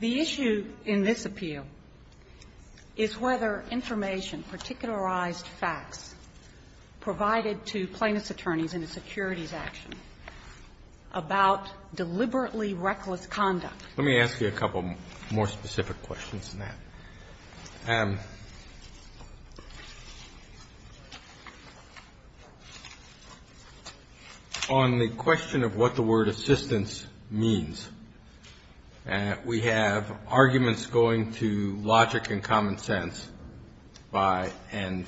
The issue in this appeal is whether information, particularized facts, provided to plaintiffs' attorneys in a securities action about deliberately reckless conduct. Let me ask you a couple more specific questions on that. On the question of what the word assistance means, we have arguments going to logic and common sense and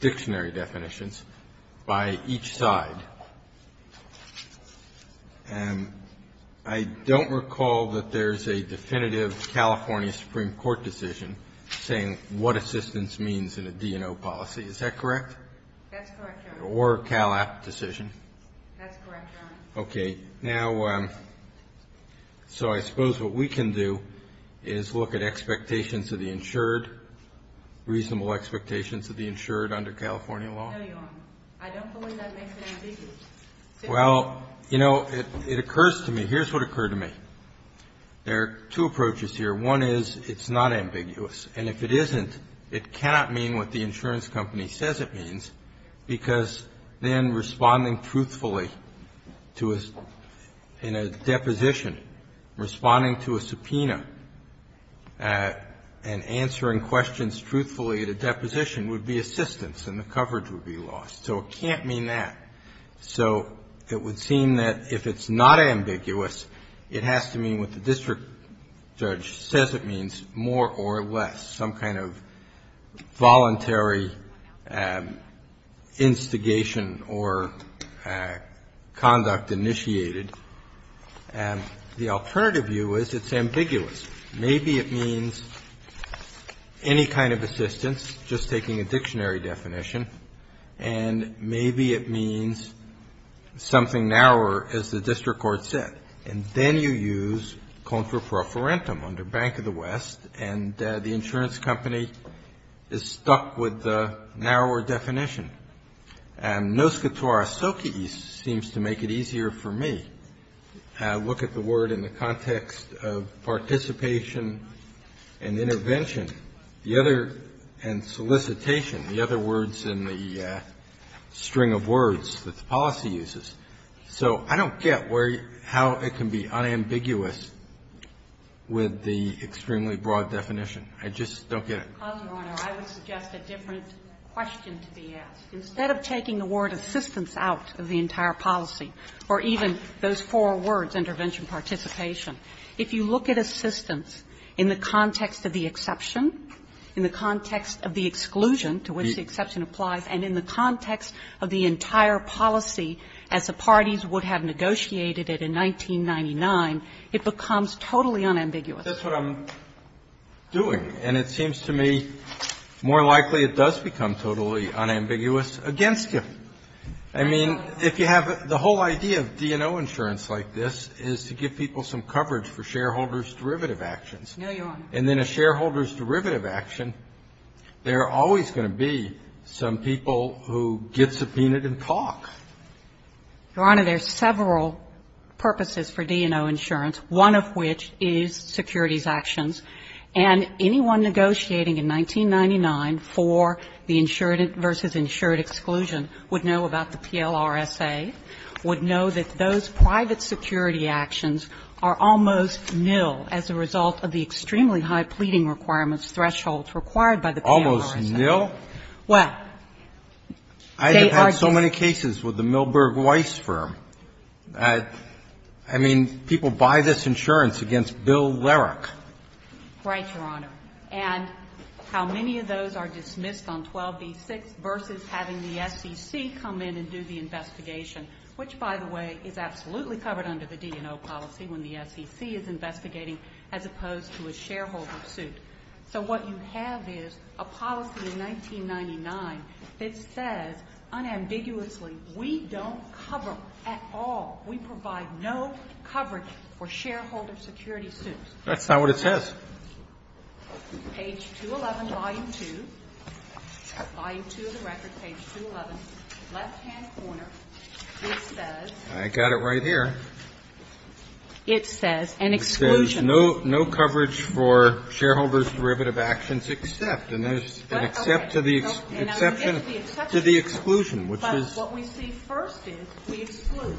dictionary definitions by each side. I don't recall that there's a definitive California Supreme Court decision saying what assistance means in a D&O policy, is that correct? That's correct, Your Honor. Or a CALAP decision? That's correct, Your Honor. Okay. Now, so I suppose what we can do is look at expectations of the insured, reasonable expectations of the insured under California law? No, Your Honor. I don't believe that makes it ambiguous. Well, you know, it occurs to me, here's what occurred to me. There are two approaches here. One is it's not ambiguous. And if it isn't, it cannot mean what the insurance company says it means, because then responding truthfully to a deposition, responding to a subpoena, and answering questions truthfully at a deposition would be assistance, and the coverage would be loss. So it can't mean that. So it would seem that if it's not ambiguous, it has to mean what the district judge says it means, more or less, some kind of voluntary instigation or conduct initiated. The alternative view is it's ambiguous. Maybe it means any kind of assistance, just taking a dictionary definition. And maybe it means something narrower, as the district court said. And then you use contra pro forentum, under Bank of the West, and the insurance company is stuck with the narrower definition. And nos quatora socis seems to make it easier for me to look at the word in the context of participation and intervention, the other and solicitation, the other words in the string of words that the policy uses. So I don't get where you how it can be unambiguous with the extremely broad definition. I just don't get it. Ms. Bratton. I would suggest a different question to be asked. Instead of taking the word assistance out of the entire policy, or even those four words, intervention, participation, if you look at assistance in the context of the exception, in the context of the exclusion to which the exception applies, and in the context of the entire policy as the parties would have negotiated it in 1999, it becomes totally unambiguous. That's what I'm doing. And it seems to me more likely it does become totally unambiguous against you. I mean, if you have the whole idea of D&O insurance like this is to give people some coverage for shareholders' derivative actions, and then a shareholder's derivative action, there are always going to be some people who get subpoenaed and talk. Your Honor, there are several purposes for D&O insurance, one of which is securities actions. And anyone negotiating in 1999 for the insured versus insured exclusion would know about the PLRSA, would know that those private security actions are almost nil as a result of the extremely high pleading requirements thresholds required by the PLRSA. Almost nil? Well, they are just so many cases with the Milberg Weiss firm. I mean, people buy this insurance against Bill Lerich. Right, Your Honor. And how many of those are dismissed on 12b-6 versus having the SEC come in and do the investigation, which, by the way, is absolutely covered under the D&O policy when the SEC is investigating as opposed to a shareholder suit. So what you have is a policy in 1999 that says unambiguously we don't cover at all, we provide no coverage for shareholder security suits. That's not what it says. Page 211, volume 2, volume 2 of the record, page 211, left-hand corner, it says no coverage for shareholder's derivative actions except, and there's an except to the exclusion. But what we see first is we exclude,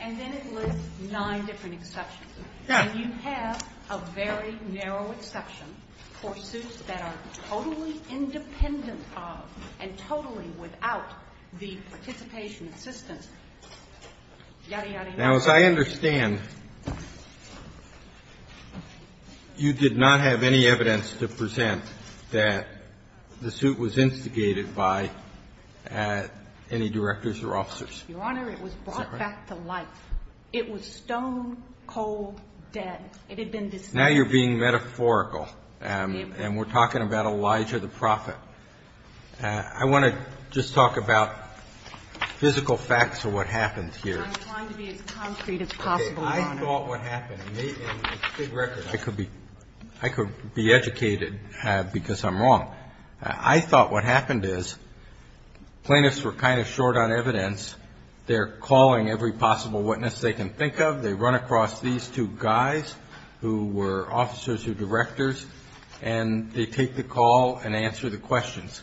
and then it lists nine different exceptions. And you have a very narrow exception for suits that are totally independent of and totally without the participation assistance, yadda, yadda, yadda. Now, as I understand, you did not have any evidence to present that the suit was instigated by any directors or officers. Is that right? Your Honor, it was brought back to life. It was stone-cold dead. It had been dismissed. Now you're being metaphorical, and we're talking about Elijah the Prophet. I want to just talk about physical facts of what happened here. I'm trying to be as concrete as possible, Your Honor. Okay, I thought what happened, and it's a big record. I could be educated because I'm wrong. I thought what happened is plaintiffs were kind of short on evidence. They're calling every possible witness they can think of. They run across these two guys who were officers or directors, and they take the call and answer the questions.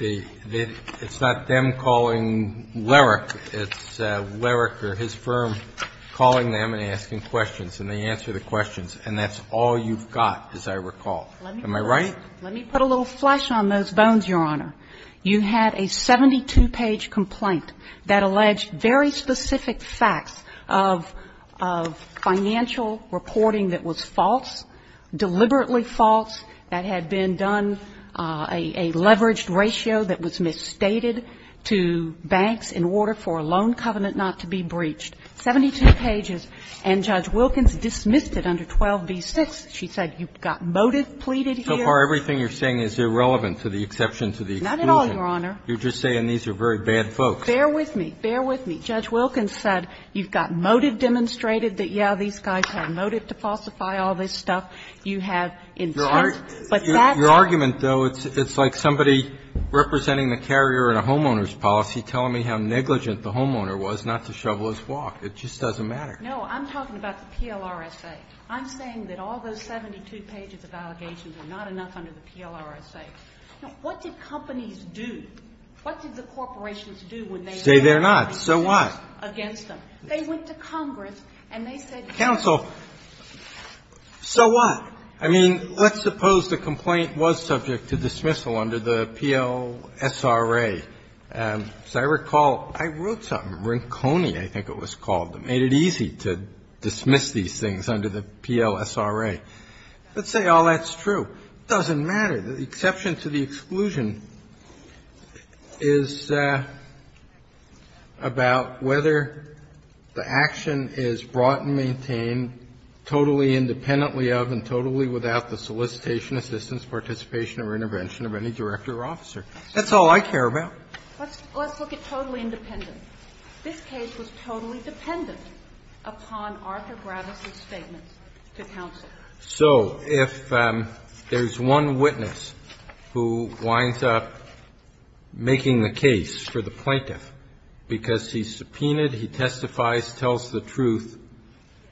It's not them calling Larrick. It's Larrick or his firm calling them and asking questions, and they answer the questions. And that's all you've got, as I recall. Am I right? Let me put a little flesh on those bones, Your Honor. You had a 72-page complaint that alleged very specific facts of financial reporting that was false, deliberately false, that had been done, a leveraged ratio that was misstated to banks in order for a loan covenant not to be breached. Seventy-two pages, and Judge Wilkins dismissed it under 12b-6. She said you got motive pleaded here. And so far, everything you're saying is irrelevant to the exception to the exclusion. Not at all, Your Honor. You're just saying these are very bad folks. Bear with me. Bear with me. Judge Wilkins said you've got motive demonstrated that, yeah, these guys had motive to falsify all this stuff. You have intent, but that's not the case. Your argument, though, it's like somebody representing the carrier in a homeowner's policy telling me how negligent the homeowner was not to shovel his walk. It just doesn't matter. No, I'm talking about the PLRSA. I'm saying that all those 72 pages of allegations are not enough under the PLRSA. Now, what did companies do? What did the corporations do when they made allegations against them? They went to Congress and they said, counsel, so what? I mean, let's suppose the complaint was subject to dismissal under the PLSRA. As I recall, I wrote something, Rinconi, I think it was called, that made it easy to dismiss these things under the PLSRA. Let's say all that's true. It doesn't matter. The exception to the exclusion is about whether the action is brought and maintained totally independently of and totally without the solicitation, assistance, participation, or intervention of any director or officer. That's all I care about. Let's look at totally independent. This case was totally dependent upon Arthur Bravis' statements to counsel. So if there's one witness who winds up making the case for the plaintiff because he's subpoenaed, he testifies, tells the truth,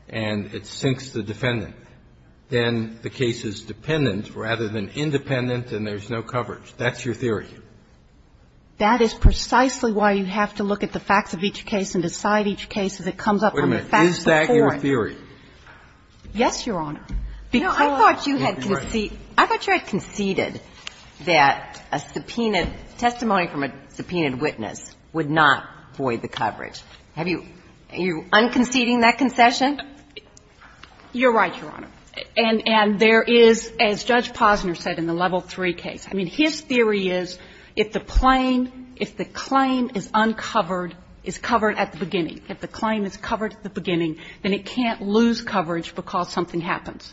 and it sinks the defendant, then the case is dependent rather than independent and there's no coverage. That's your theory. That is precisely why you have to look at the facts of each case and decide each case as it comes up from the facts before it. Breyer, is that your theory? Yes, Your Honor, because you had conceded, I thought you had conceded that a subpoenaed testimony from a subpoenaed witness would not void the coverage. Have you, are you unconceding that concession? You're right, Your Honor. And there is, as Judge Posner said in the Level III case, I mean, his theory is that if the plain, if the claim is uncovered, is covered at the beginning, if the claim is covered at the beginning, then it can't lose coverage because something happens.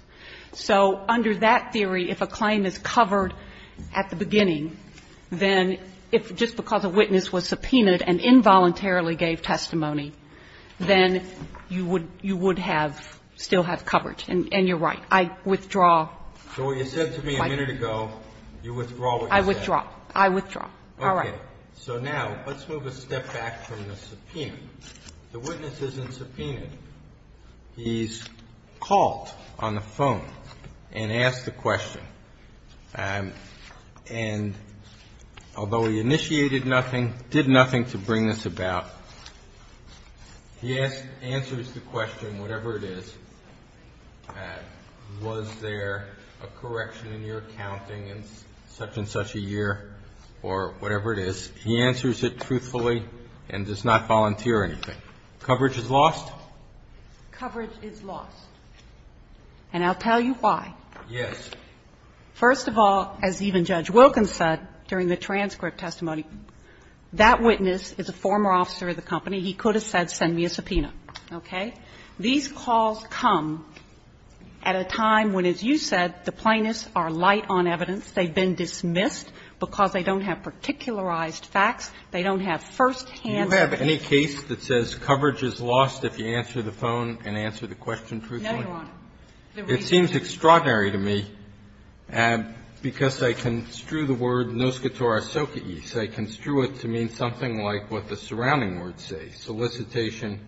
So under that theory, if a claim is covered at the beginning, then if just because a witness was subpoenaed and involuntarily gave testimony, then you would, you would have, still have coverage. And you're right, I withdraw my view. So what you said to me a minute ago, you withdraw what you said. I withdraw. I withdraw. All right. Okay. So now let's move a step back from the subpoena. The witness isn't subpoenaed. He's called on the phone and asked the question. And although he initiated nothing, did nothing to bring this about, he asked, answers the question, whatever it is, was there a correction in your accounting in such and such a year or whatever it is, he answers it truthfully and does not volunteer anything. Coverage is lost? Coverage is lost. And I'll tell you why. Yes. First of all, as even Judge Wilkins said during the transcript testimony, that witness is a former officer of the company. He could have said, send me a subpoena. Okay? These calls come at a time when, as you said, the plaintiffs are light on evidence. They've been dismissed because they don't have particularized facts. They don't have firsthand evidence. Do you have any case that says coverage is lost if you answer the phone and answer the question truthfully? No, Your Honor. The reason is. It seems extraordinary to me because I construe the word nos cator asocies. I construe it to mean something like what the surrounding words say, solicitation,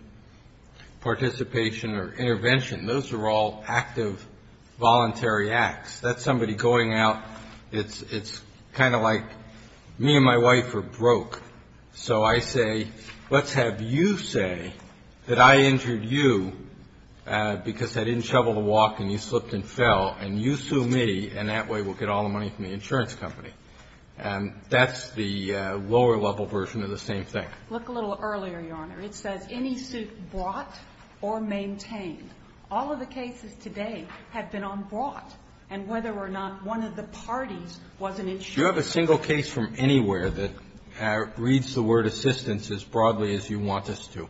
participation or intervention. Those are all active voluntary acts. That's somebody going out. It's kind of like me and my wife are broke. So I say, let's have you say that I injured you because I didn't shovel the walk and you slipped and fell and you sue me and that way we'll get all the money from the insurance company. And that's the lower level version of the same thing. Look a little earlier, Your Honor. It says any suit brought or maintained. All of the cases today have been on brought, and whether or not one of the parties was an insurer. Do you have a single case from anywhere that reads the word assistance as broadly as you want us to?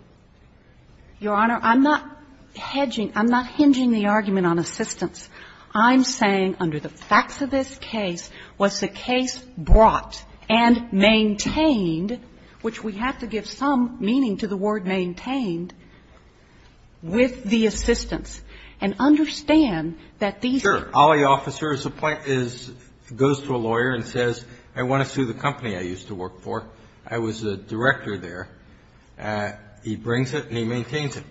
Your Honor, I'm not hedging. I'm not hinging the argument on assistance. I'm saying under the facts of this case, was the case brought and maintained, which we have to give some meaning to the word maintained, with the assistance. And understand that these are. Sure. All the officers goes to a lawyer and says, I want to sue the company I used to work for. I was a director there. He brings it and he maintains it.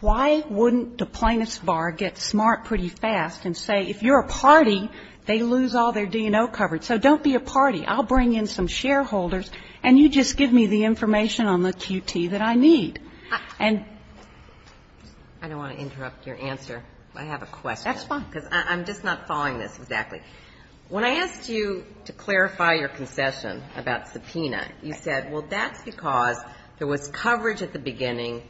Why wouldn't the plaintiff's bar get smart pretty fast and say, if you're a party, they lose all their D&O coverage. So don't be a party. I'll bring in some shareholders, and you just give me the information on the QT that I need. And. I don't want to interrupt your answer. I have a question. That's fine. Because I'm just not following this exactly. When I asked you to clarify your concession about subpoena, you said, well, that's because there was coverage at the beginning,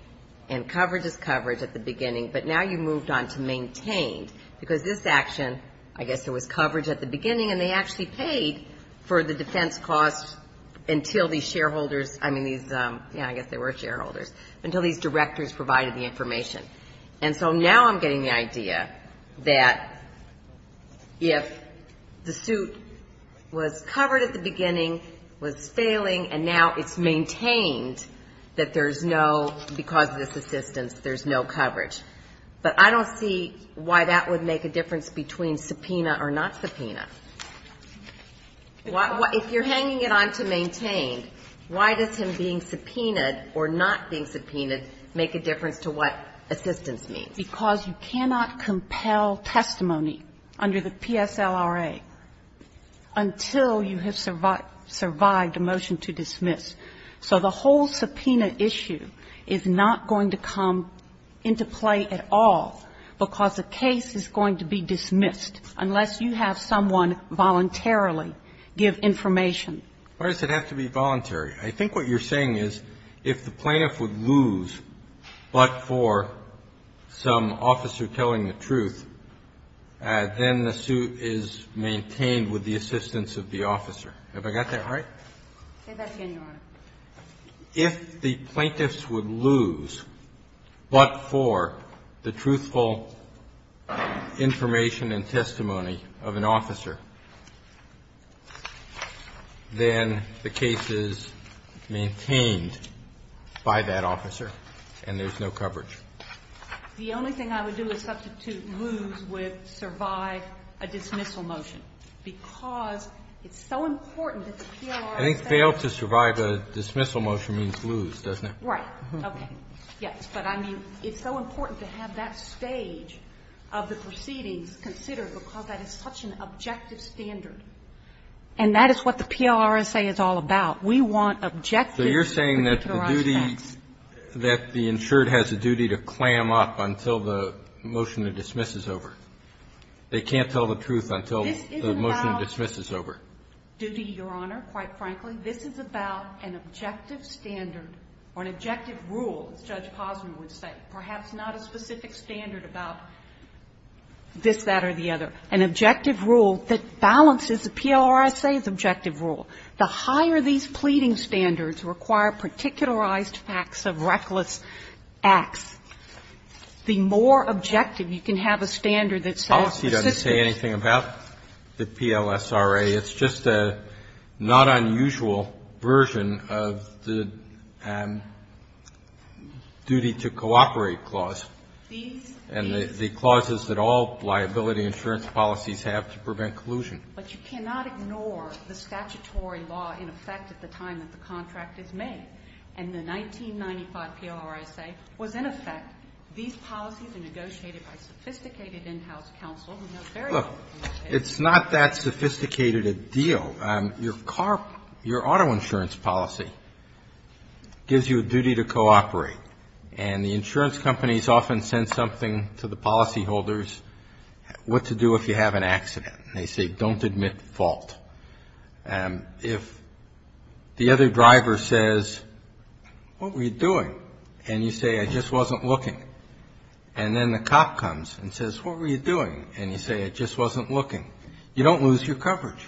and coverage is coverage at the beginning, but now you moved on to maintained, because this action, I guess there was coverage at the beginning, and they actually paid for the defense costs until these shareholders, I mean, these, yeah, I guess they were shareholders, until these directors provided the information. And so now I'm getting the idea that if the suit was covered at the beginning, was failing, and now it's maintained that there's no, because of this assistance, there's no coverage. But I don't see why that would make a difference between subpoena or not subpoena. If you're hanging it on to maintained, why does him being subpoenaed or not being subpoenaed make a difference to what assistance means? Because you cannot compel testimony under the PSLRA until you have survived a motion to dismiss. So the whole subpoena issue is not going to come into play at all, because the case is going to be dismissed unless you have someone voluntarily give information. Why does it have to be voluntary? I think what you're saying is if the plaintiff would lose, but for some officer telling the truth, then the suit is maintained with the assistance of the officer. Have I got that right? Say that again, Your Honor. If the plaintiffs would lose, but for the truthful information and testimony of an officer, then the case is maintained by that officer and there's no coverage. The only thing I would do is substitute lose with survive a dismissal motion, because it's so important that the PLRSA doesn't have to do that. I think fail to survive a dismissal motion means lose, doesn't it? Right. Okay. Yes. But I mean, it's so important to have that stage of the proceedings considered because that is such an objective standard. And that is what the PLRSA is all about. We want objective. So you're saying that the duty, that the insured has a duty to clam up until the motion to dismiss is over. They can't tell the truth until the motion to dismiss is over. This is about duty, Your Honor, quite frankly. This is about an objective standard or an objective rule, as Judge Posner would say, perhaps not a specific standard about this, that, or the other. An objective rule that balances the PLRSA's objective rule. The higher these pleading standards require particularized facts of reckless acts, the more objective you can have a standard that says the system is. The policy doesn't say anything about the PLSRA. It's just a not unusual version of the duty to cooperate clause. And the clauses that all liability insurance policies have to prevent collusion. But you cannot ignore the statutory law in effect at the time that the contract is made. And the 1995 PLRSA was in effect, these policies are negotiated by sophisticated in-house counsel who know very well what they're doing. It's not that sophisticated a deal. Your car, your auto insurance policy gives you a duty to cooperate. And the insurance companies often send something to the policyholders, what to do if you have an accident. They say, don't admit fault. If the other driver says, what were you doing? And you say, I just wasn't looking. And then the cop comes and says, what were you doing? And you say, I just wasn't looking. You don't lose your coverage.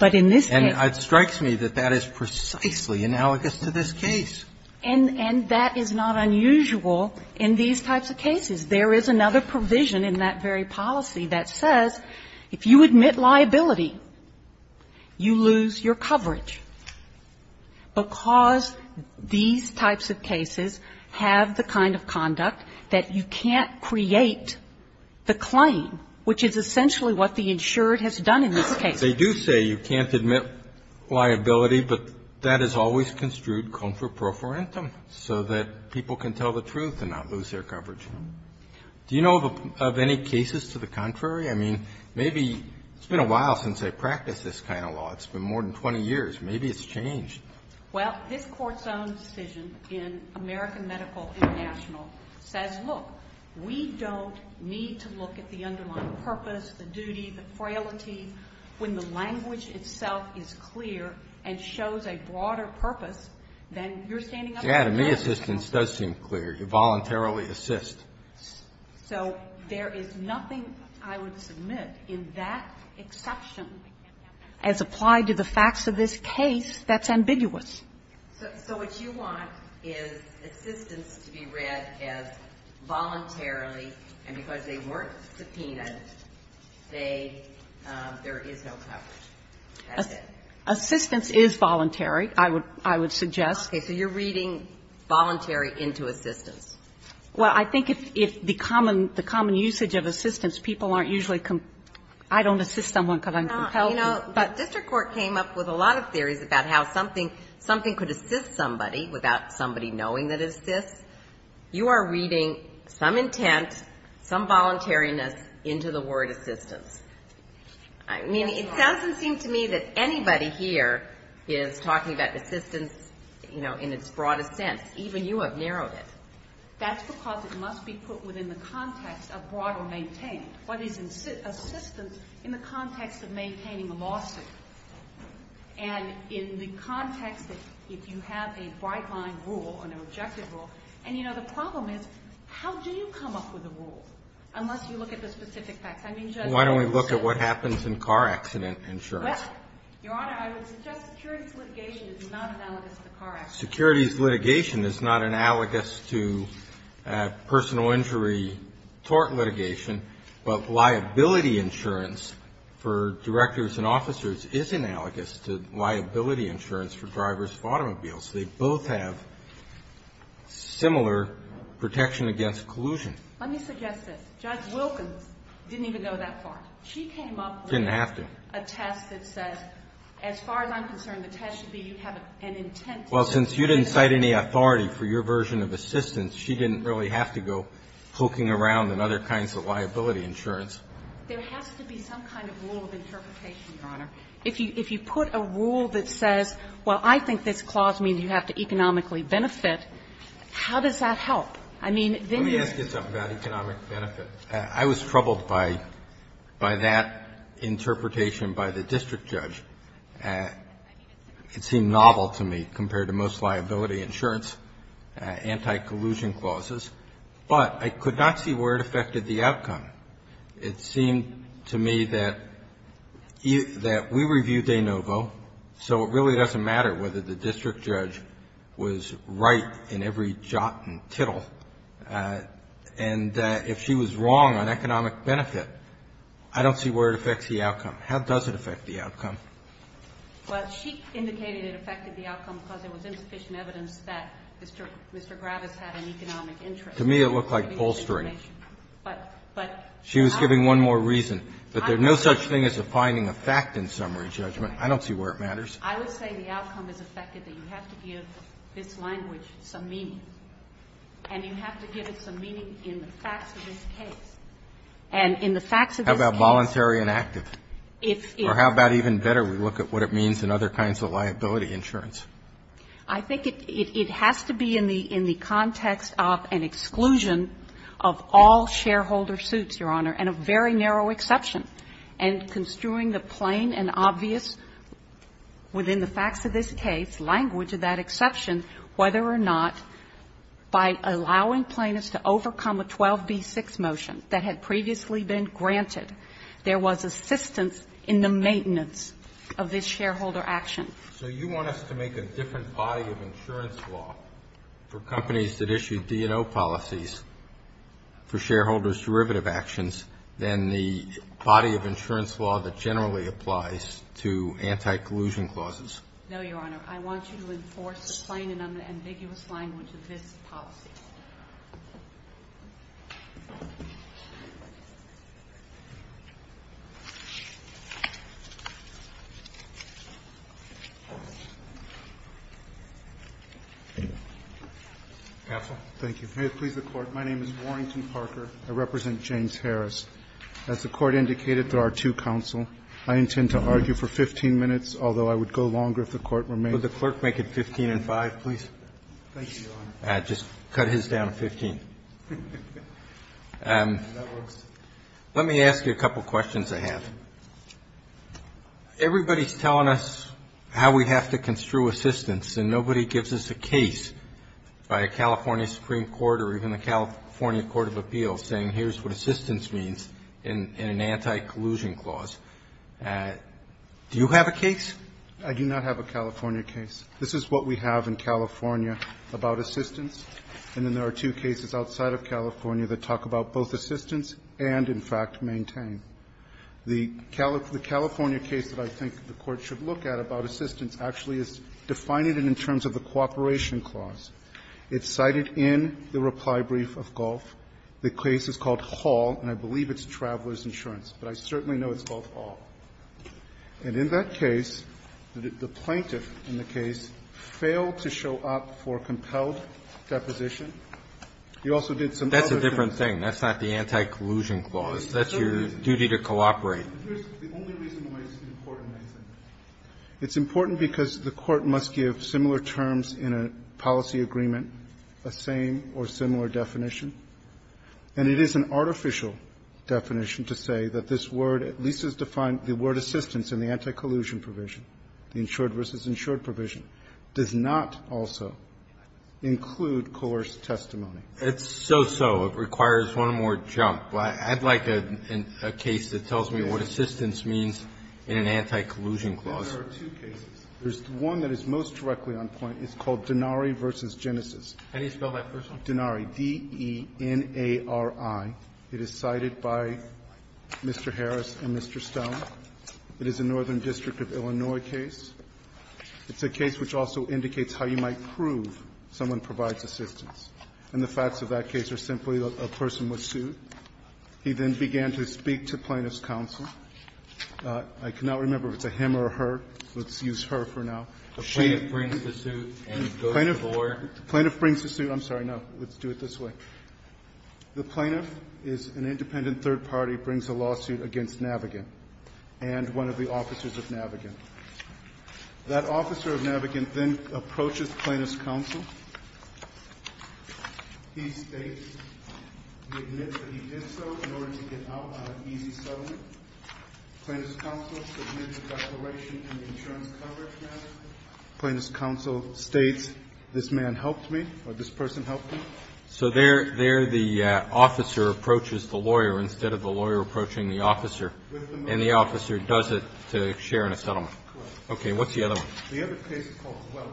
And it strikes me that that is precisely analogous to this case. And that is not unusual in these types of cases. There is another provision in that very policy that says, if you admit liability, you lose your coverage, because these types of cases have the kind of conduct that you can't create the claim, which is essentially what the insured has done in this case. They do say you can't admit liability, but that has always construed comfort pro for intem, so that people can tell the truth and not lose their coverage. Do you know of any cases to the contrary? I mean, maybe it's been a while since I practiced this kind of law. It's been more than 20 years. Maybe it's changed. Well, this Court's own decision in American Medical International says, look, we don't need to look at the underlying purpose, the duty, the frailty. When the language itself is clear and shows a broader purpose, then you're standing up for yourself. Yeah, to me, assistance does seem clear. You voluntarily assist. So there is nothing, I would submit, in that exception as applied to the facts of this case that's ambiguous. So what you want is assistance to be read as voluntarily, and because they weren't subpoenaed, they say there is no coverage. That's it. Assistance is voluntary, I would suggest. Okay, so you're reading voluntary into assistance. Well, I think if the common usage of assistance, people aren't usually compelled. I don't assist someone because I'm compelled. You know, the district court came up with a lot of theories about how something could assist somebody without somebody knowing that it assists. You are reading some intent, some voluntariness into the word assistance. I mean, it doesn't seem to me that anybody here is talking about assistance, you know, in its broadest sense. Even you have narrowed it. That's because it must be put within the context of broader maintaining. What is assistance in the context of maintaining a lawsuit? And in the context that if you have a bright line rule, an objective rule, and you know, the problem is, how do you come up with a rule? Unless you look at the specific facts. Why don't we look at what happens in car accident insurance? Well, Your Honor, I would suggest securities litigation is not analogous to car accidents. Securities litigation is not analogous to personal injury tort litigation, but liability insurance for directors and officers is analogous to liability insurance for drivers of automobiles. They both have similar protection against collusion. Let me suggest this. Judge Wilkins didn't even go that far. She came up with a test that says, as far as I'm concerned, the test should be you have an intent to assist. Well, since you didn't cite any authority for your version of assistance, she didn't really have to go poking around in other kinds of liability insurance. There has to be some kind of rule of interpretation, Your Honor. If you put a rule that says, well, I think this clause means you have to economically benefit, how does that help? I mean, then you're going to have to do something about economic benefit. I was troubled by that interpretation by the district judge. It seemed novel to me compared to most liability insurance anti-collusion clauses, but I could not see where it affected the outcome. It seemed to me that we reviewed de novo, so it really doesn't matter whether the district judge was right in every jot and tittle. And if she was wrong on economic benefit, I don't see where it affects the outcome. How does it affect the outcome? Well, she indicated it affected the outcome because there was insufficient evidence that Mr. Gravis had an economic interest. To me, it looked like bolstering. But I'm going to give you an explanation. She was giving one more reason. But there's no such thing as a finding of fact in summary judgment. I don't see where it matters. I would say the outcome is affected that you have to give this language some meaning. And you have to give it some meaning in the facts of this case. And in the facts of this case How about voluntary and active? Or how about even better, we look at what it means in other kinds of liability insurance? I think it has to be in the context of an exclusion of all shareholder suits, Your Honor, and a very narrow exception. And construing the plain and obvious within the facts of this case, language of that exception, whether or not by allowing plaintiffs to overcome a 12B6 motion that had previously been granted, there was assistance in the maintenance of this shareholder action. So you want us to make a different body of insurance law for companies that issue D&O policies for shareholders' derivative actions than the body of insurance law that generally applies to anti-collusion clauses? No, Your Honor. I want you to enforce the plain and ambiguous language of this policy. Counsel. Thank you. May it please the Court, my name is Warrington Parker. I represent James Harris. As the Court indicated through our two counsel, I intend to argue for 15 minutes, although I would go longer if the Court were made to. Would the Clerk make it 15 and 5, please? Thank you, Your Honor. Just cut his down to 15. Let me ask you a couple of questions I have. Everybody's telling us how we have to construe assistance, and nobody gives us a case by a California Supreme Court or even a California Court of Appeals saying here's what assistance means in an anti-collusion clause. Do you have a case? I do not have a California case. This is what we have in California about assistance, and then there are two cases outside of California that talk about both assistance and, in fact, maintain. The California case that I think the Court should look at about assistance actually is defining it in terms of the cooperation clause. It's cited in the reply brief of Gulf. The case is called Hall, and I believe it's Traveler's Insurance, but I certainly know it's called Hall. And in that case, the plaintiff in the case failed to show up for compelled deposition. You also did some other things. That's a different thing. That's not the anti-collusion clause. That's your duty to cooperate. The only reason why it's important, I think, it's important because the Court must give similar terms in a policy agreement, a same or similar definition, and it is an artificial definition to say that this word at least is defined, the word assistance in the anti-collusion provision, the insured versus insured provision, does not also include coerced testimony. It's so-so. It requires one more jump. But I'd like a case that tells me what assistance means in an anti-collusion clause. There are two cases. There's one that is most directly on point. It's called Denari v. Genesis. Can you spell that first? Denari, D-E-N-A-R-I. It is cited by Mr. Harris and Mr. Stone. It is a Northern District of Illinois case. It's a case which also indicates how you might prove someone provides assistance. And the facts of that case are simply that a person was sued. He then began to speak to Plaintiff's counsel. I cannot remember if it's a him or a her. Let's use her for now. The plaintiff brings the suit and goes to the court. The plaintiff brings the suit. I'm sorry. No, let's do it this way. The plaintiff is an independent third party, brings a lawsuit against Navigant and one of the officers of Navigant. That officer of Navigant then approaches Plaintiff's counsel. He states, he admits that he did so in order to get out on an easy settlement. Plaintiff's counsel submits a declaration in the insurance coverage matter. Plaintiff's counsel states, this man helped me or this person helped me. So there the officer approaches the lawyer instead of the lawyer approaching the officer. And the officer does it to share in a settlement. Correct. Okay. What's the other one? The other case is called Welch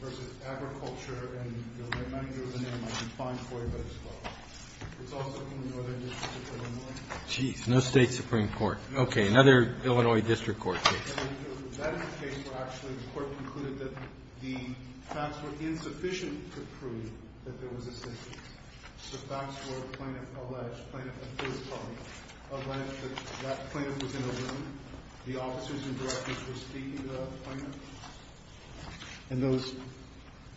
v. Agriculture and the manager of the name might be fine for you, but it's Welch. It's also from the Northern District of Illinois. Geez, no State Supreme Court. Okay, another Illinois District Court case. That is a case where actually the court concluded that the facts were insufficient to prove that there was a state case. The facts were Plaintiff alleged, Plaintiff, a third party, alleged that that plaintiff was in a room. The officers and directors were speaking to the plaintiff. And those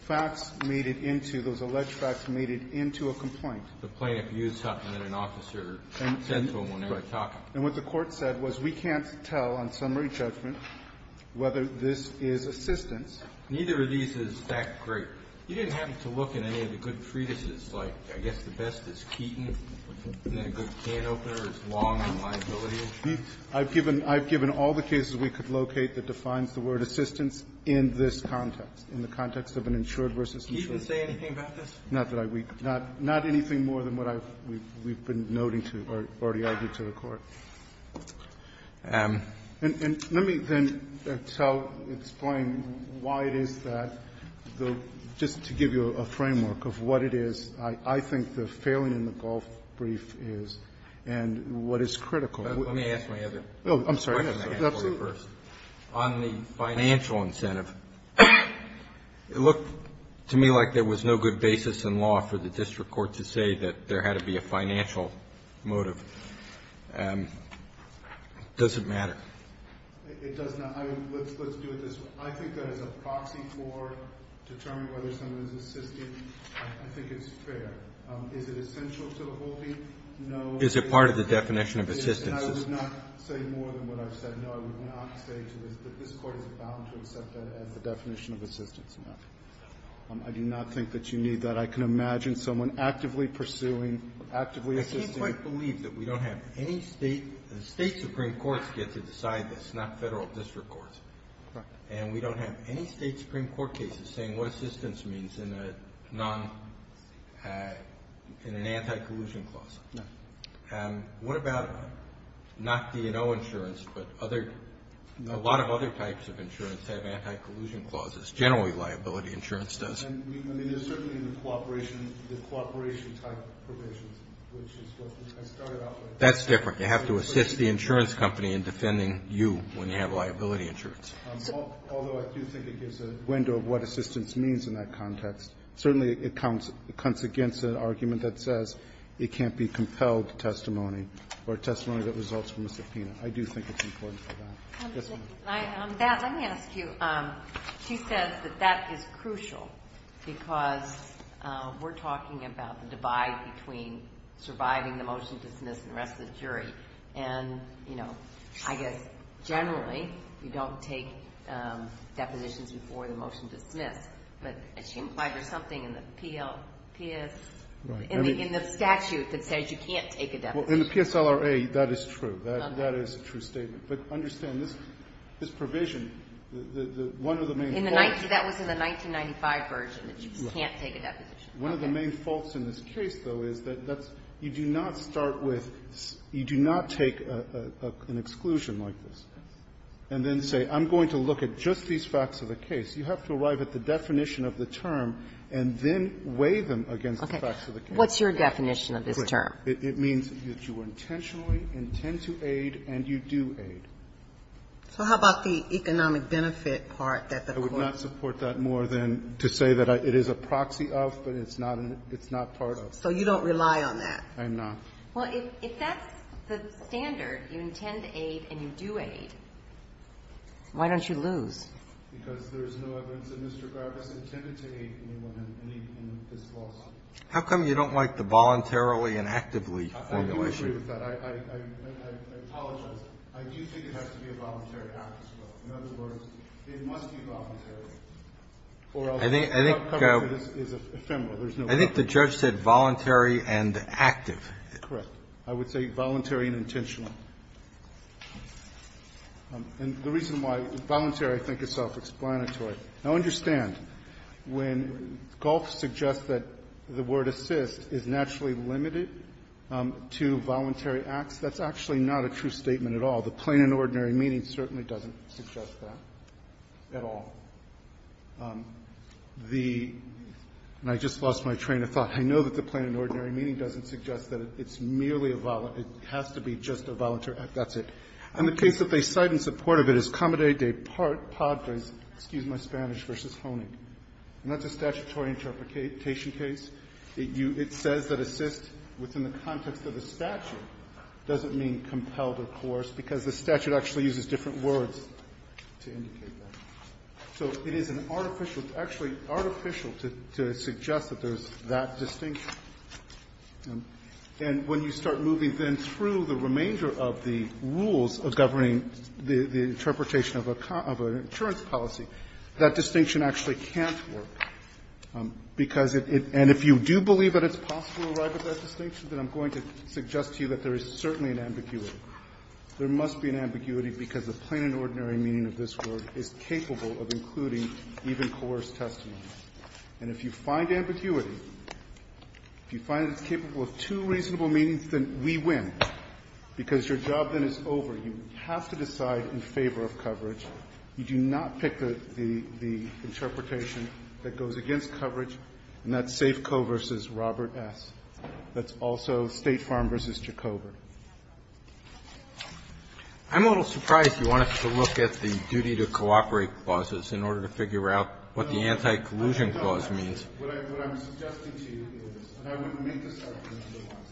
facts made it into, those alleged facts made it into a complaint. The plaintiff used something that an officer said to him when they were talking. And what the court said was, we can't tell on summary judgment whether this is assistance. Neither of these is that great. You didn't have to look in any of the good treatises, like I guess the best is Keaton, and then a good can opener is Long and Liability. I've given all the cases we could locate that defines the word assistance in this context, in the context of an insured versus insured. Can you say anything about this? Not that I week. Not anything more than what we've been noting to or already argued to the Court. And let me then tell, explain why it is that the, just to give you a framework of what it is, I think the failing in the Gulf brief is, and what is critical. Let me ask my other question I have for you first. On the financial incentive, it looked to me like there was no good basis in law for the district court to say that there had to be a financial motive. Does it matter? It does not. I mean, let's do it this way. I think that as a proxy for determining whether someone is assisting, I think it's fair. Is it essential to the whole thing? No. Is it part of the definition of assistance? I would not say more than what I've said. No, I would not say to this, that this Court is bound to accept that as the definition of assistance. No. I do not think that you need that. I can imagine someone actively pursuing, actively assisting. I can't quite believe that we don't have any state, state supreme courts get to decide this, not federal district courts. Right. And we don't have any state supreme court cases saying what assistance means in a non, in an anti-collusion clause. No. And what about not D&O insurance, but other, a lot of other types of insurance have anti-collusion clauses. Generally, liability insurance does. And we, I mean, there's certainly the cooperation, the cooperation type provisions, which is what I started out with. That's different. You have to assist the insurance company in defending you when you have liability insurance. Although I do think it gives a window of what assistance means in that context. Certainly, it counts, it comes against an argument that says it can't be compelled testimony, or testimony that results from a subpoena. I do think it's important for that. Yes, ma'am. I, that, let me ask you, she says that that is crucial, because we're talking about the divide between surviving the motion to dismiss and arrest the jury. And, you know, I guess, generally, you don't take depositions before the motion to dismiss. But she implied there's something in the PLPS, in the statute that says you can't take a deposition. Well, in the PSLRA, that is true. That is a true statement. But understand, this provision, the, one of the main faults. In the, that was in the 1995 version, that you can't take a deposition. One of the main faults in this case, though, is that that's, you do not start with, you do not take an exclusion like this. And then say, I'm going to look at just these facts of the case. You have to arrive at the definition of the term and then weigh them against the facts of the case. Okay. What's your definition of this term? It means that you intentionally intend to aid and you do aid. So how about the economic benefit part that the Court's? I would not support that more than to say that it is a proxy of, but it's not, it's not part of. So you don't rely on that? I'm not. Well, if that's the standard, you intend to aid and you do aid, why don't you lose? Because there's no evidence that Mr. Grubb has intended to aid anyone in this lawsuit. How come you don't like the voluntarily and actively formulation? I do agree with that. I, I, I, I, I, I, I apologize. I do think it has to be a voluntary act as well. In other words, it must be voluntary or else the outcome of this is ephemeral. There's no. I think the judge said voluntary and active. Correct. I would say voluntary and intentional. And the reason why voluntary I think is self-explanatory. Now, understand, when Galt suggests that the word assist is naturally limited to voluntary acts, that's actually not a true statement at all. The plain and ordinary meaning certainly doesn't suggest that at all. The, and I just lost my train of thought, I know that the plain and ordinary meaning doesn't suggest that it's merely a voluntary, it has to be just a voluntary act, that's it. And the case that they cite in support of it is Comadre de Padres, excuse my Spanish, v. Honig. And that's a statutory interpretation case. It says that assist within the context of the statute doesn't mean compelled or coerced because the statute actually uses different words to indicate that. So it is an artificial, it's actually artificial to suggest that there's that distinction. And when you start moving then through the remainder of the rules of governing the interpretation of a, of an insurance policy, that distinction actually can't work, because it, and if you do believe that it's possible to arrive at that distinction, then I'm going to suggest to you that there is certainly an ambiguity. There must be an ambiguity because the plain and ordinary meaning of this word is capable of including even coerced testimony. And if you find ambiguity, if you find it's capable of two reasonable meanings, then we win, because your job then is over. You have to decide in favor of coverage. You do not pick the, the, the interpretation that goes against coverage, and that's Safeco v. Robert S. That's also State Farm v. Jacober. I'm a little surprised you want us to look at the duty to cooperate clauses in order to figure out what the anti-collusion clause means. What I'm suggesting to you is, and I wouldn't make this argument otherwise,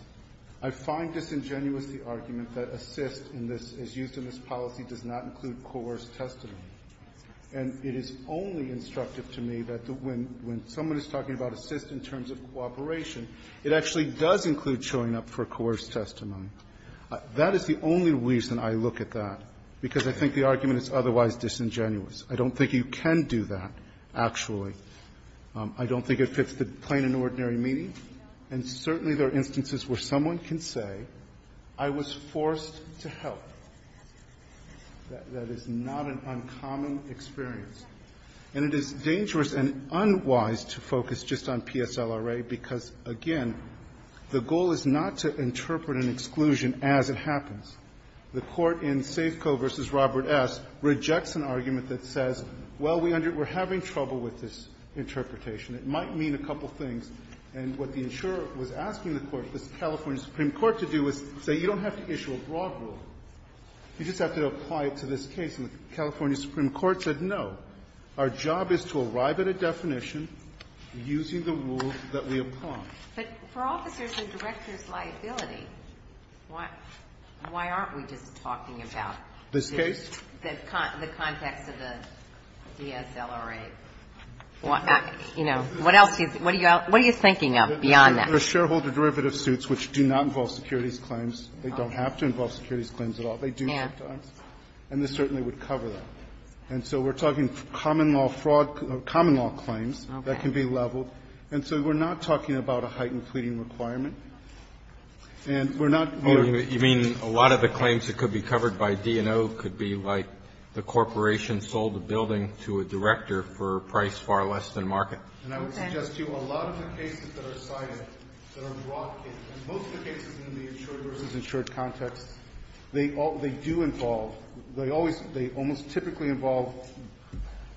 I find disingenuous the argument that assist in this, as used in this policy, does not include coerced testimony. And it is only instructive to me that when, when someone is talking about assist in terms of cooperation, it actually does include showing up for coerced testimony. That is the only reason I look at that, because I think the argument is otherwise disingenuous. I don't think you can do that, actually. I don't think it fits the plain and ordinary meaning. And certainly there are instances where someone can say, I was forced to help. That is not an uncommon experience. And it is dangerous and unwise to focus just on PSLRA, because, again, the goal is not to interpret an exclusion as it happens. The Court in Safeco v. Robert S. rejects an argument that says, well, we're having trouble with this interpretation. It might mean a couple of things. And what the insurer was asking the Court, the California Supreme Court, to do is say you don't have to issue a broad rule. You just have to apply it to this case. And the California Supreme Court said, no, our job is to arrive at a definition using the rules that we apply. Ginsburg-McGillivray, but for officers' and directors' liability, why aren't we just talking about the context of the DSLRA? You know, what else is you thinking of beyond that? There are shareholder derivative suits which do not involve securities claims. They don't have to involve securities claims at all. They do sometimes. And this certainly would cover that. And so we're talking common law fraud or common law claims that can be leveled. And so we're not talking about a heightened pleading requirement. And we're not going to do that. Roberts, you mean a lot of the claims that could be covered by D&O could be like the corporation sold a building to a director for a price far less than market? And I would suggest to you, a lot of the cases that are cited that are broad cases Most of the cases in the insured versus insured context, they do involve, they always they almost typically involve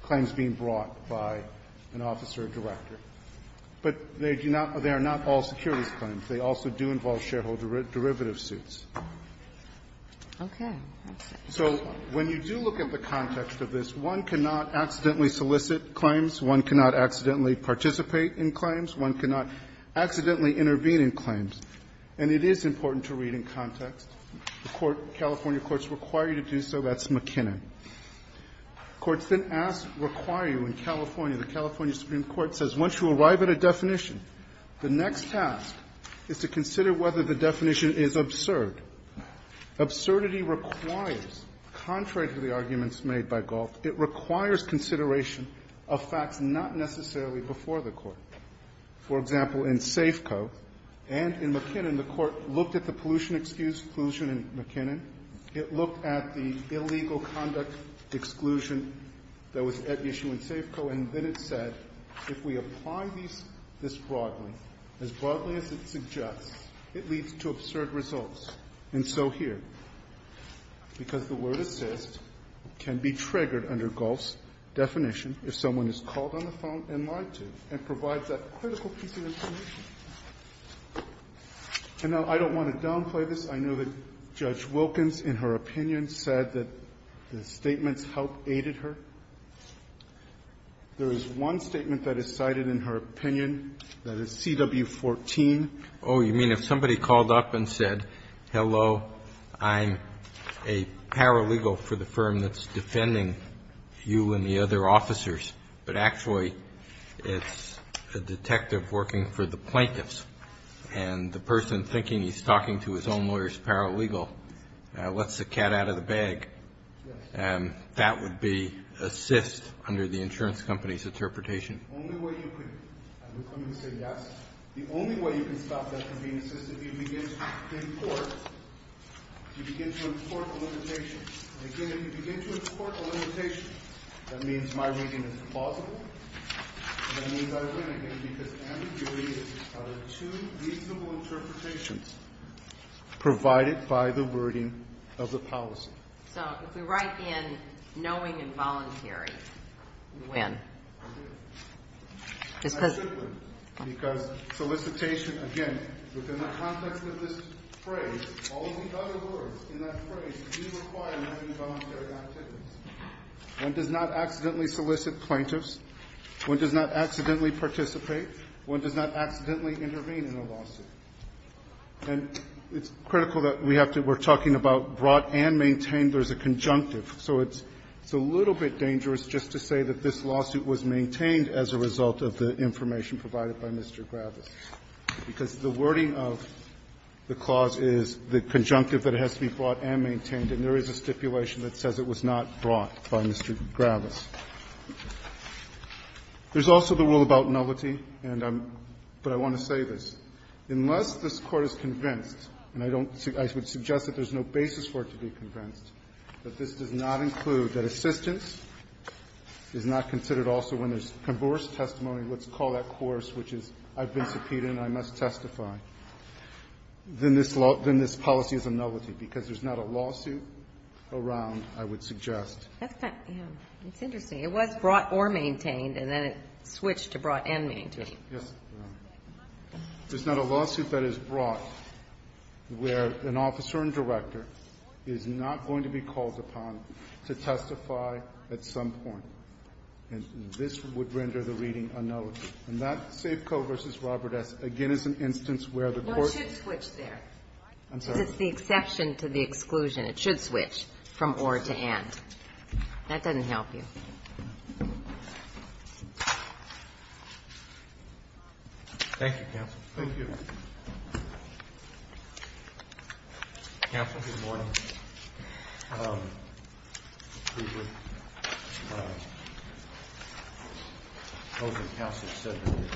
claims being brought by an officer or director. But they do not, they are not all securities claims. They also do involve shareholder derivative suits. Okay. So when you do look at the context of this, one cannot accidentally solicit claims, one cannot accidentally participate in claims, one cannot accidentally intervene in claims, and it is important to read in context. The California courts require you to do so, that's McKinnon. Courts then ask, require you in California, the California Supreme Court says, once you arrive at a definition, the next task is to consider whether the definition is absurd. Absurdity requires, contrary to the arguments made by Galt, it requires consideration of facts not necessarily before the court. For example, in Safeco and in McKinnon, the court looked at the pollution excuse, pollution in McKinnon. It looked at the illegal conduct exclusion that was at issue in Safeco, and then it said, if we apply these, this broadly, as broadly as it suggests, it leads to absurd results. And so here, because the word assist can be triggered under Galt's definition if someone is called on the phone and lied to and provides that critical piece of information. And now, I don't want to downplay this. I know that Judge Wilkins, in her opinion, said that the statements help aided her. There is one statement that is cited in her opinion that is CW 14. Roberts, Jr.: Oh, you mean if somebody called up and said, hello, I'm a paralegal for the firm that's defending you and the other officers, but actually, it's a detective working for the plaintiffs, and the person thinking he's talking to his own lawyer is paralegal, lets the cat out of the bag, that would be assist under the insurance company's interpretation. The only way you can stop that from being assist is if you begin to import a limitation. And again, if you begin to import a limitation, that means my reading is plausible, and that means I win, again, because ambiguity is one of the two reasonable interpretations provided by the wording of the policy. So, if we write in knowing and voluntary, we win. I agree. I agree. I agree. Because solicitation, again, within the context of this phrase, all of the other words in that phrase do require knowing and voluntary activities. One does not accidentally solicit plaintiffs. One does not accidentally participate. One does not accidentally intervene in a lawsuit. And it's critical that we have to be talking about brought and maintained. There's a conjunctive. So it's a little bit dangerous just to say that this lawsuit was maintained as a result of the information provided by Mr. Gravis, because the wording of the clause is the conjunctive that it has to be brought and maintained, and there is a stipulation that says it was not brought by Mr. Gravis. There's also the rule about nullity, and I'm going to say this. Unless this Court is convinced, and I don't see – I would suggest that there's no basis for it to be convinced, but this does not include that assistance is not considered also when there's converse testimony, let's call that coarse, which is I've been subpoenaed and I must testify, then this law – then this policy is a nullity, because there's not a lawsuit around, I would suggest. That's kind of – yeah, it's interesting. It was brought or maintained, and then it switched to brought and maintained. Yes. There's not a lawsuit that is brought where an officer and director is not going to be called upon to testify at some point, and this would render the reading a nullity. And that Safeco v. Robert S. again is an instance where the Court – No, it should switch there. I'm sorry. Because it's the exception to the exclusion. It should switch from or to and. That doesn't help you. Thank you, Counsel. Thank you. Counsel, good morning.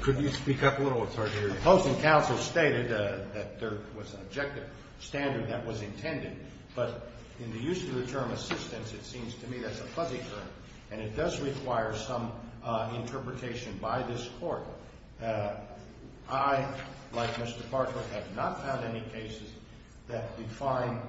Could you speak up a little? It's hard to hear you. The Post and Counsel stated that there was an objective standard that was intended, but in the use of the term assistance, it seems to me that's a fuzzy term, and it does require some interpretation by this Court. I, like Mr. Bartlett, have not found any cases that define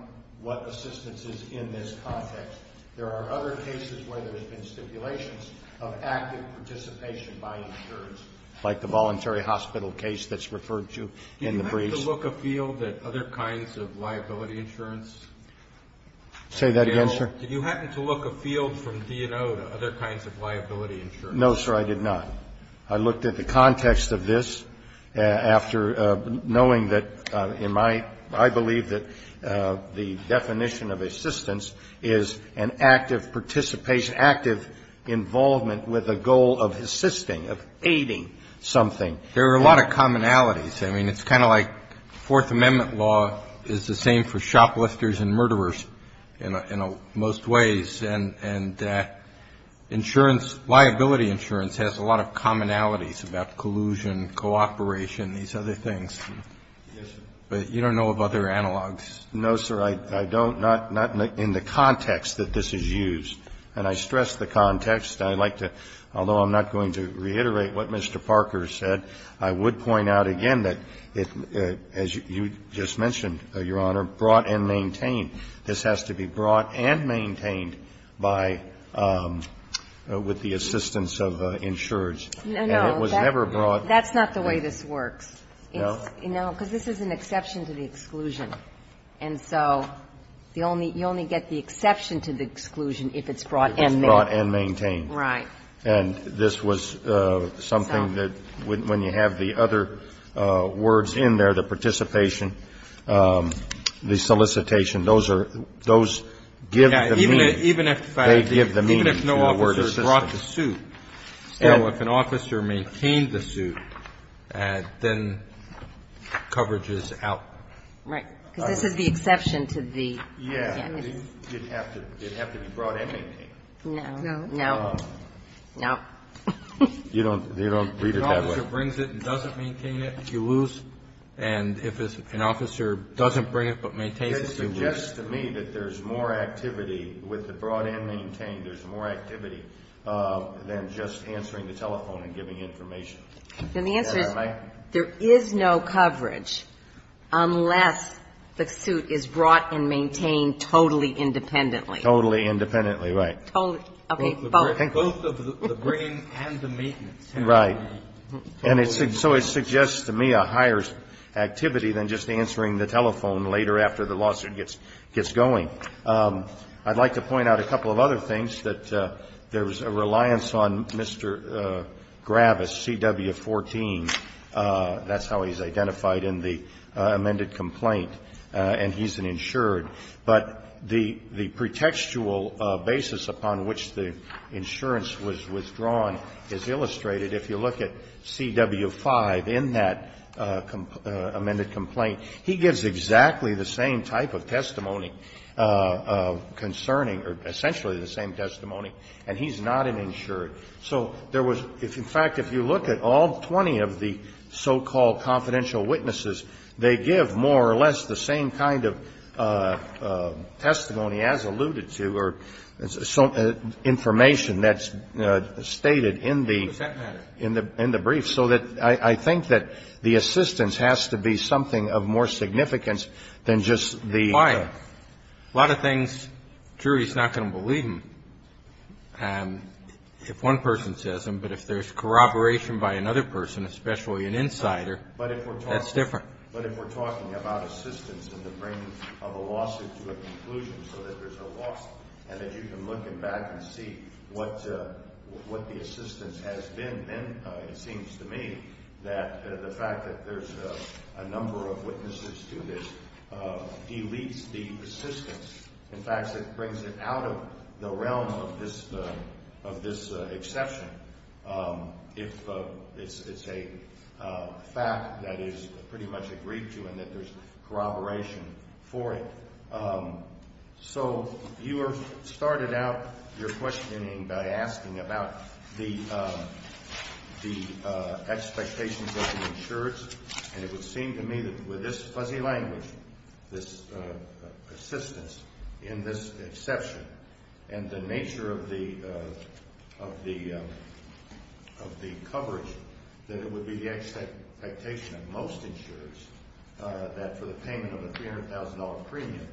what assistance is in this context. There are other cases where there's been stipulations of active participation by insurance, like the voluntary hospital case that's referred to in the briefs. Did you happen to look afield at other kinds of liability insurance? Say that again, sir? Did you happen to look afield from D&O to other kinds of liability insurance? No, sir, I did not. I looked at the context of this after knowing that in my – I believe that the definition of assistance is an active participation, active involvement with a goal of assisting, of aiding something. There are a lot of commonalities. I mean, it's kind of like Fourth Amendment law is the same for shoplifters and murderers in most ways, and insurance, liability insurance has a lot of commonalities about collusion, cooperation, these other things. Yes, sir. But you don't know of other analogs? No, sir. I don't, not in the context that this is used. And I stress the context. I'd like to – although I'm not going to reiterate what Mr. Parker said, I would like to point out again that, as you just mentioned, Your Honor, brought and maintained. This has to be brought and maintained by – with the assistance of insurers. And it was never brought. No, no. That's not the way this works. No? No, because this is an exception to the exclusion. And so the only – you only get the exception to the exclusion if it's brought and maintained. If it's brought and maintained. Right. And this was something that, when you have the other words in there, the participation, the solicitation, those are – those give the meaning. Even if no officer brought the suit. So if an officer maintained the suit, then coverage is out. Right. Because this is the exception to the – Yeah. It'd have to be brought and maintained. No. No. No. No. You don't read it that way. If an officer brings it and doesn't maintain it, you lose. And if an officer doesn't bring it but maintains it, you lose. It suggests to me that there's more activity with the brought and maintained, there's more activity than just answering the telephone and giving information. And the answer is there is no coverage unless the suit is brought and maintained totally independently. Totally independently, right. Totally – okay, both. Both of the bringing and the maintenance. Right. And so it suggests to me a higher activity than just answering the telephone later after the lawsuit gets going. I'd like to point out a couple of other things that there's a reliance on Mr. Gravis, CW 14. That's how he's identified in the amended complaint. And he's an insured. But the pretextual basis upon which the insurance was withdrawn is illustrated if you look at CW 5 in that amended complaint. He gives exactly the same type of testimony concerning or essentially the same testimony. And he's not an insured. So there was – in fact, if you look at all 20 of the so-called confidential witnesses, they give more or less the same kind of testimony as alluded to or information that's stated in the – in the brief. So that I think that the assistance has to be something of more significance than just the – A lot of things, jury's not going to believe him if one person says them. But if there's corroboration by another person, especially an insider – That's different. But if we're talking about assistance in the frame of a lawsuit to a conclusion, so that there's a lawsuit and that you can look him back and see what the assistance has been, then it seems to me that the fact that there's a number of witnesses to this deletes the assistance. In fact, it brings it out of the realm of this exception. If it's a fact that is pretty much agreed to and that there's corroboration for it. So you were – started out your questioning by asking about the expectations of the insurance. And it would seem to me that with this fuzzy language, this assistance in this exception, and the nature of the coverage, that it would be the expectation of most insurers that for the payment of a $300,000 premium,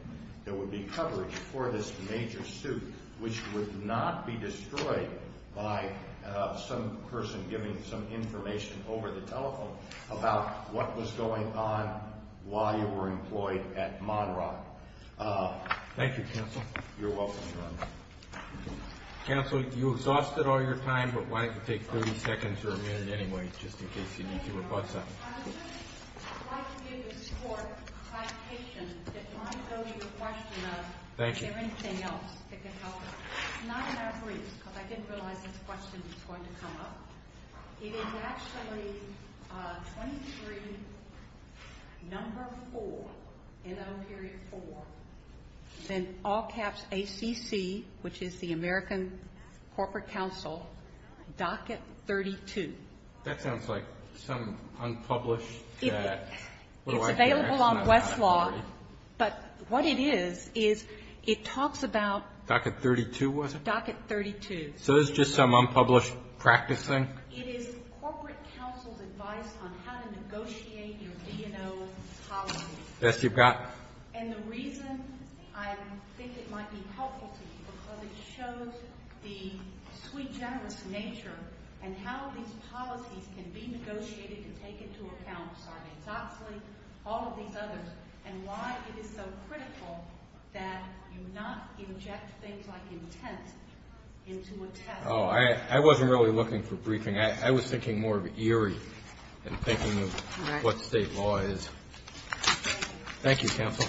there would be coverage for this major suit, which would not be destroyed by some person giving some information over the telephone about what was going on while you were employed at Monroe. Thank you, counsel. You're welcome, Your Honor. Counsel, you exhausted all your time, but why don't you take 30 seconds or a minute anyway, just in case you need to rebut something. I would just like to give this court clarification. It might go to the question of, is there anything else that could help us? It's not in our briefs, because I didn't realize this question was going to come up. It is actually 23, number 4, NO. 4, then all caps ACC, which is the American Corporate Council, docket 32. That sounds like some unpublished – It's available on Westlaw, but what it is, is it talks about – Docket 32 was it? Docket 32. So it's just some unpublished practice thing? It is Corporate Council's advice on how to negotiate your B&O policies. Yes, you've got it. And the reason I think it might be helpful to you, because it shows the sweet, generous nature and how these policies can be negotiated and taken into account, Sarney's Oxley, all of these others, and why it is so critical that you not inject things like intent into a test. I wasn't really looking for briefing. I was thinking more of Erie and thinking of what state law is. Thank you, Counsel. Thank you. Thank you.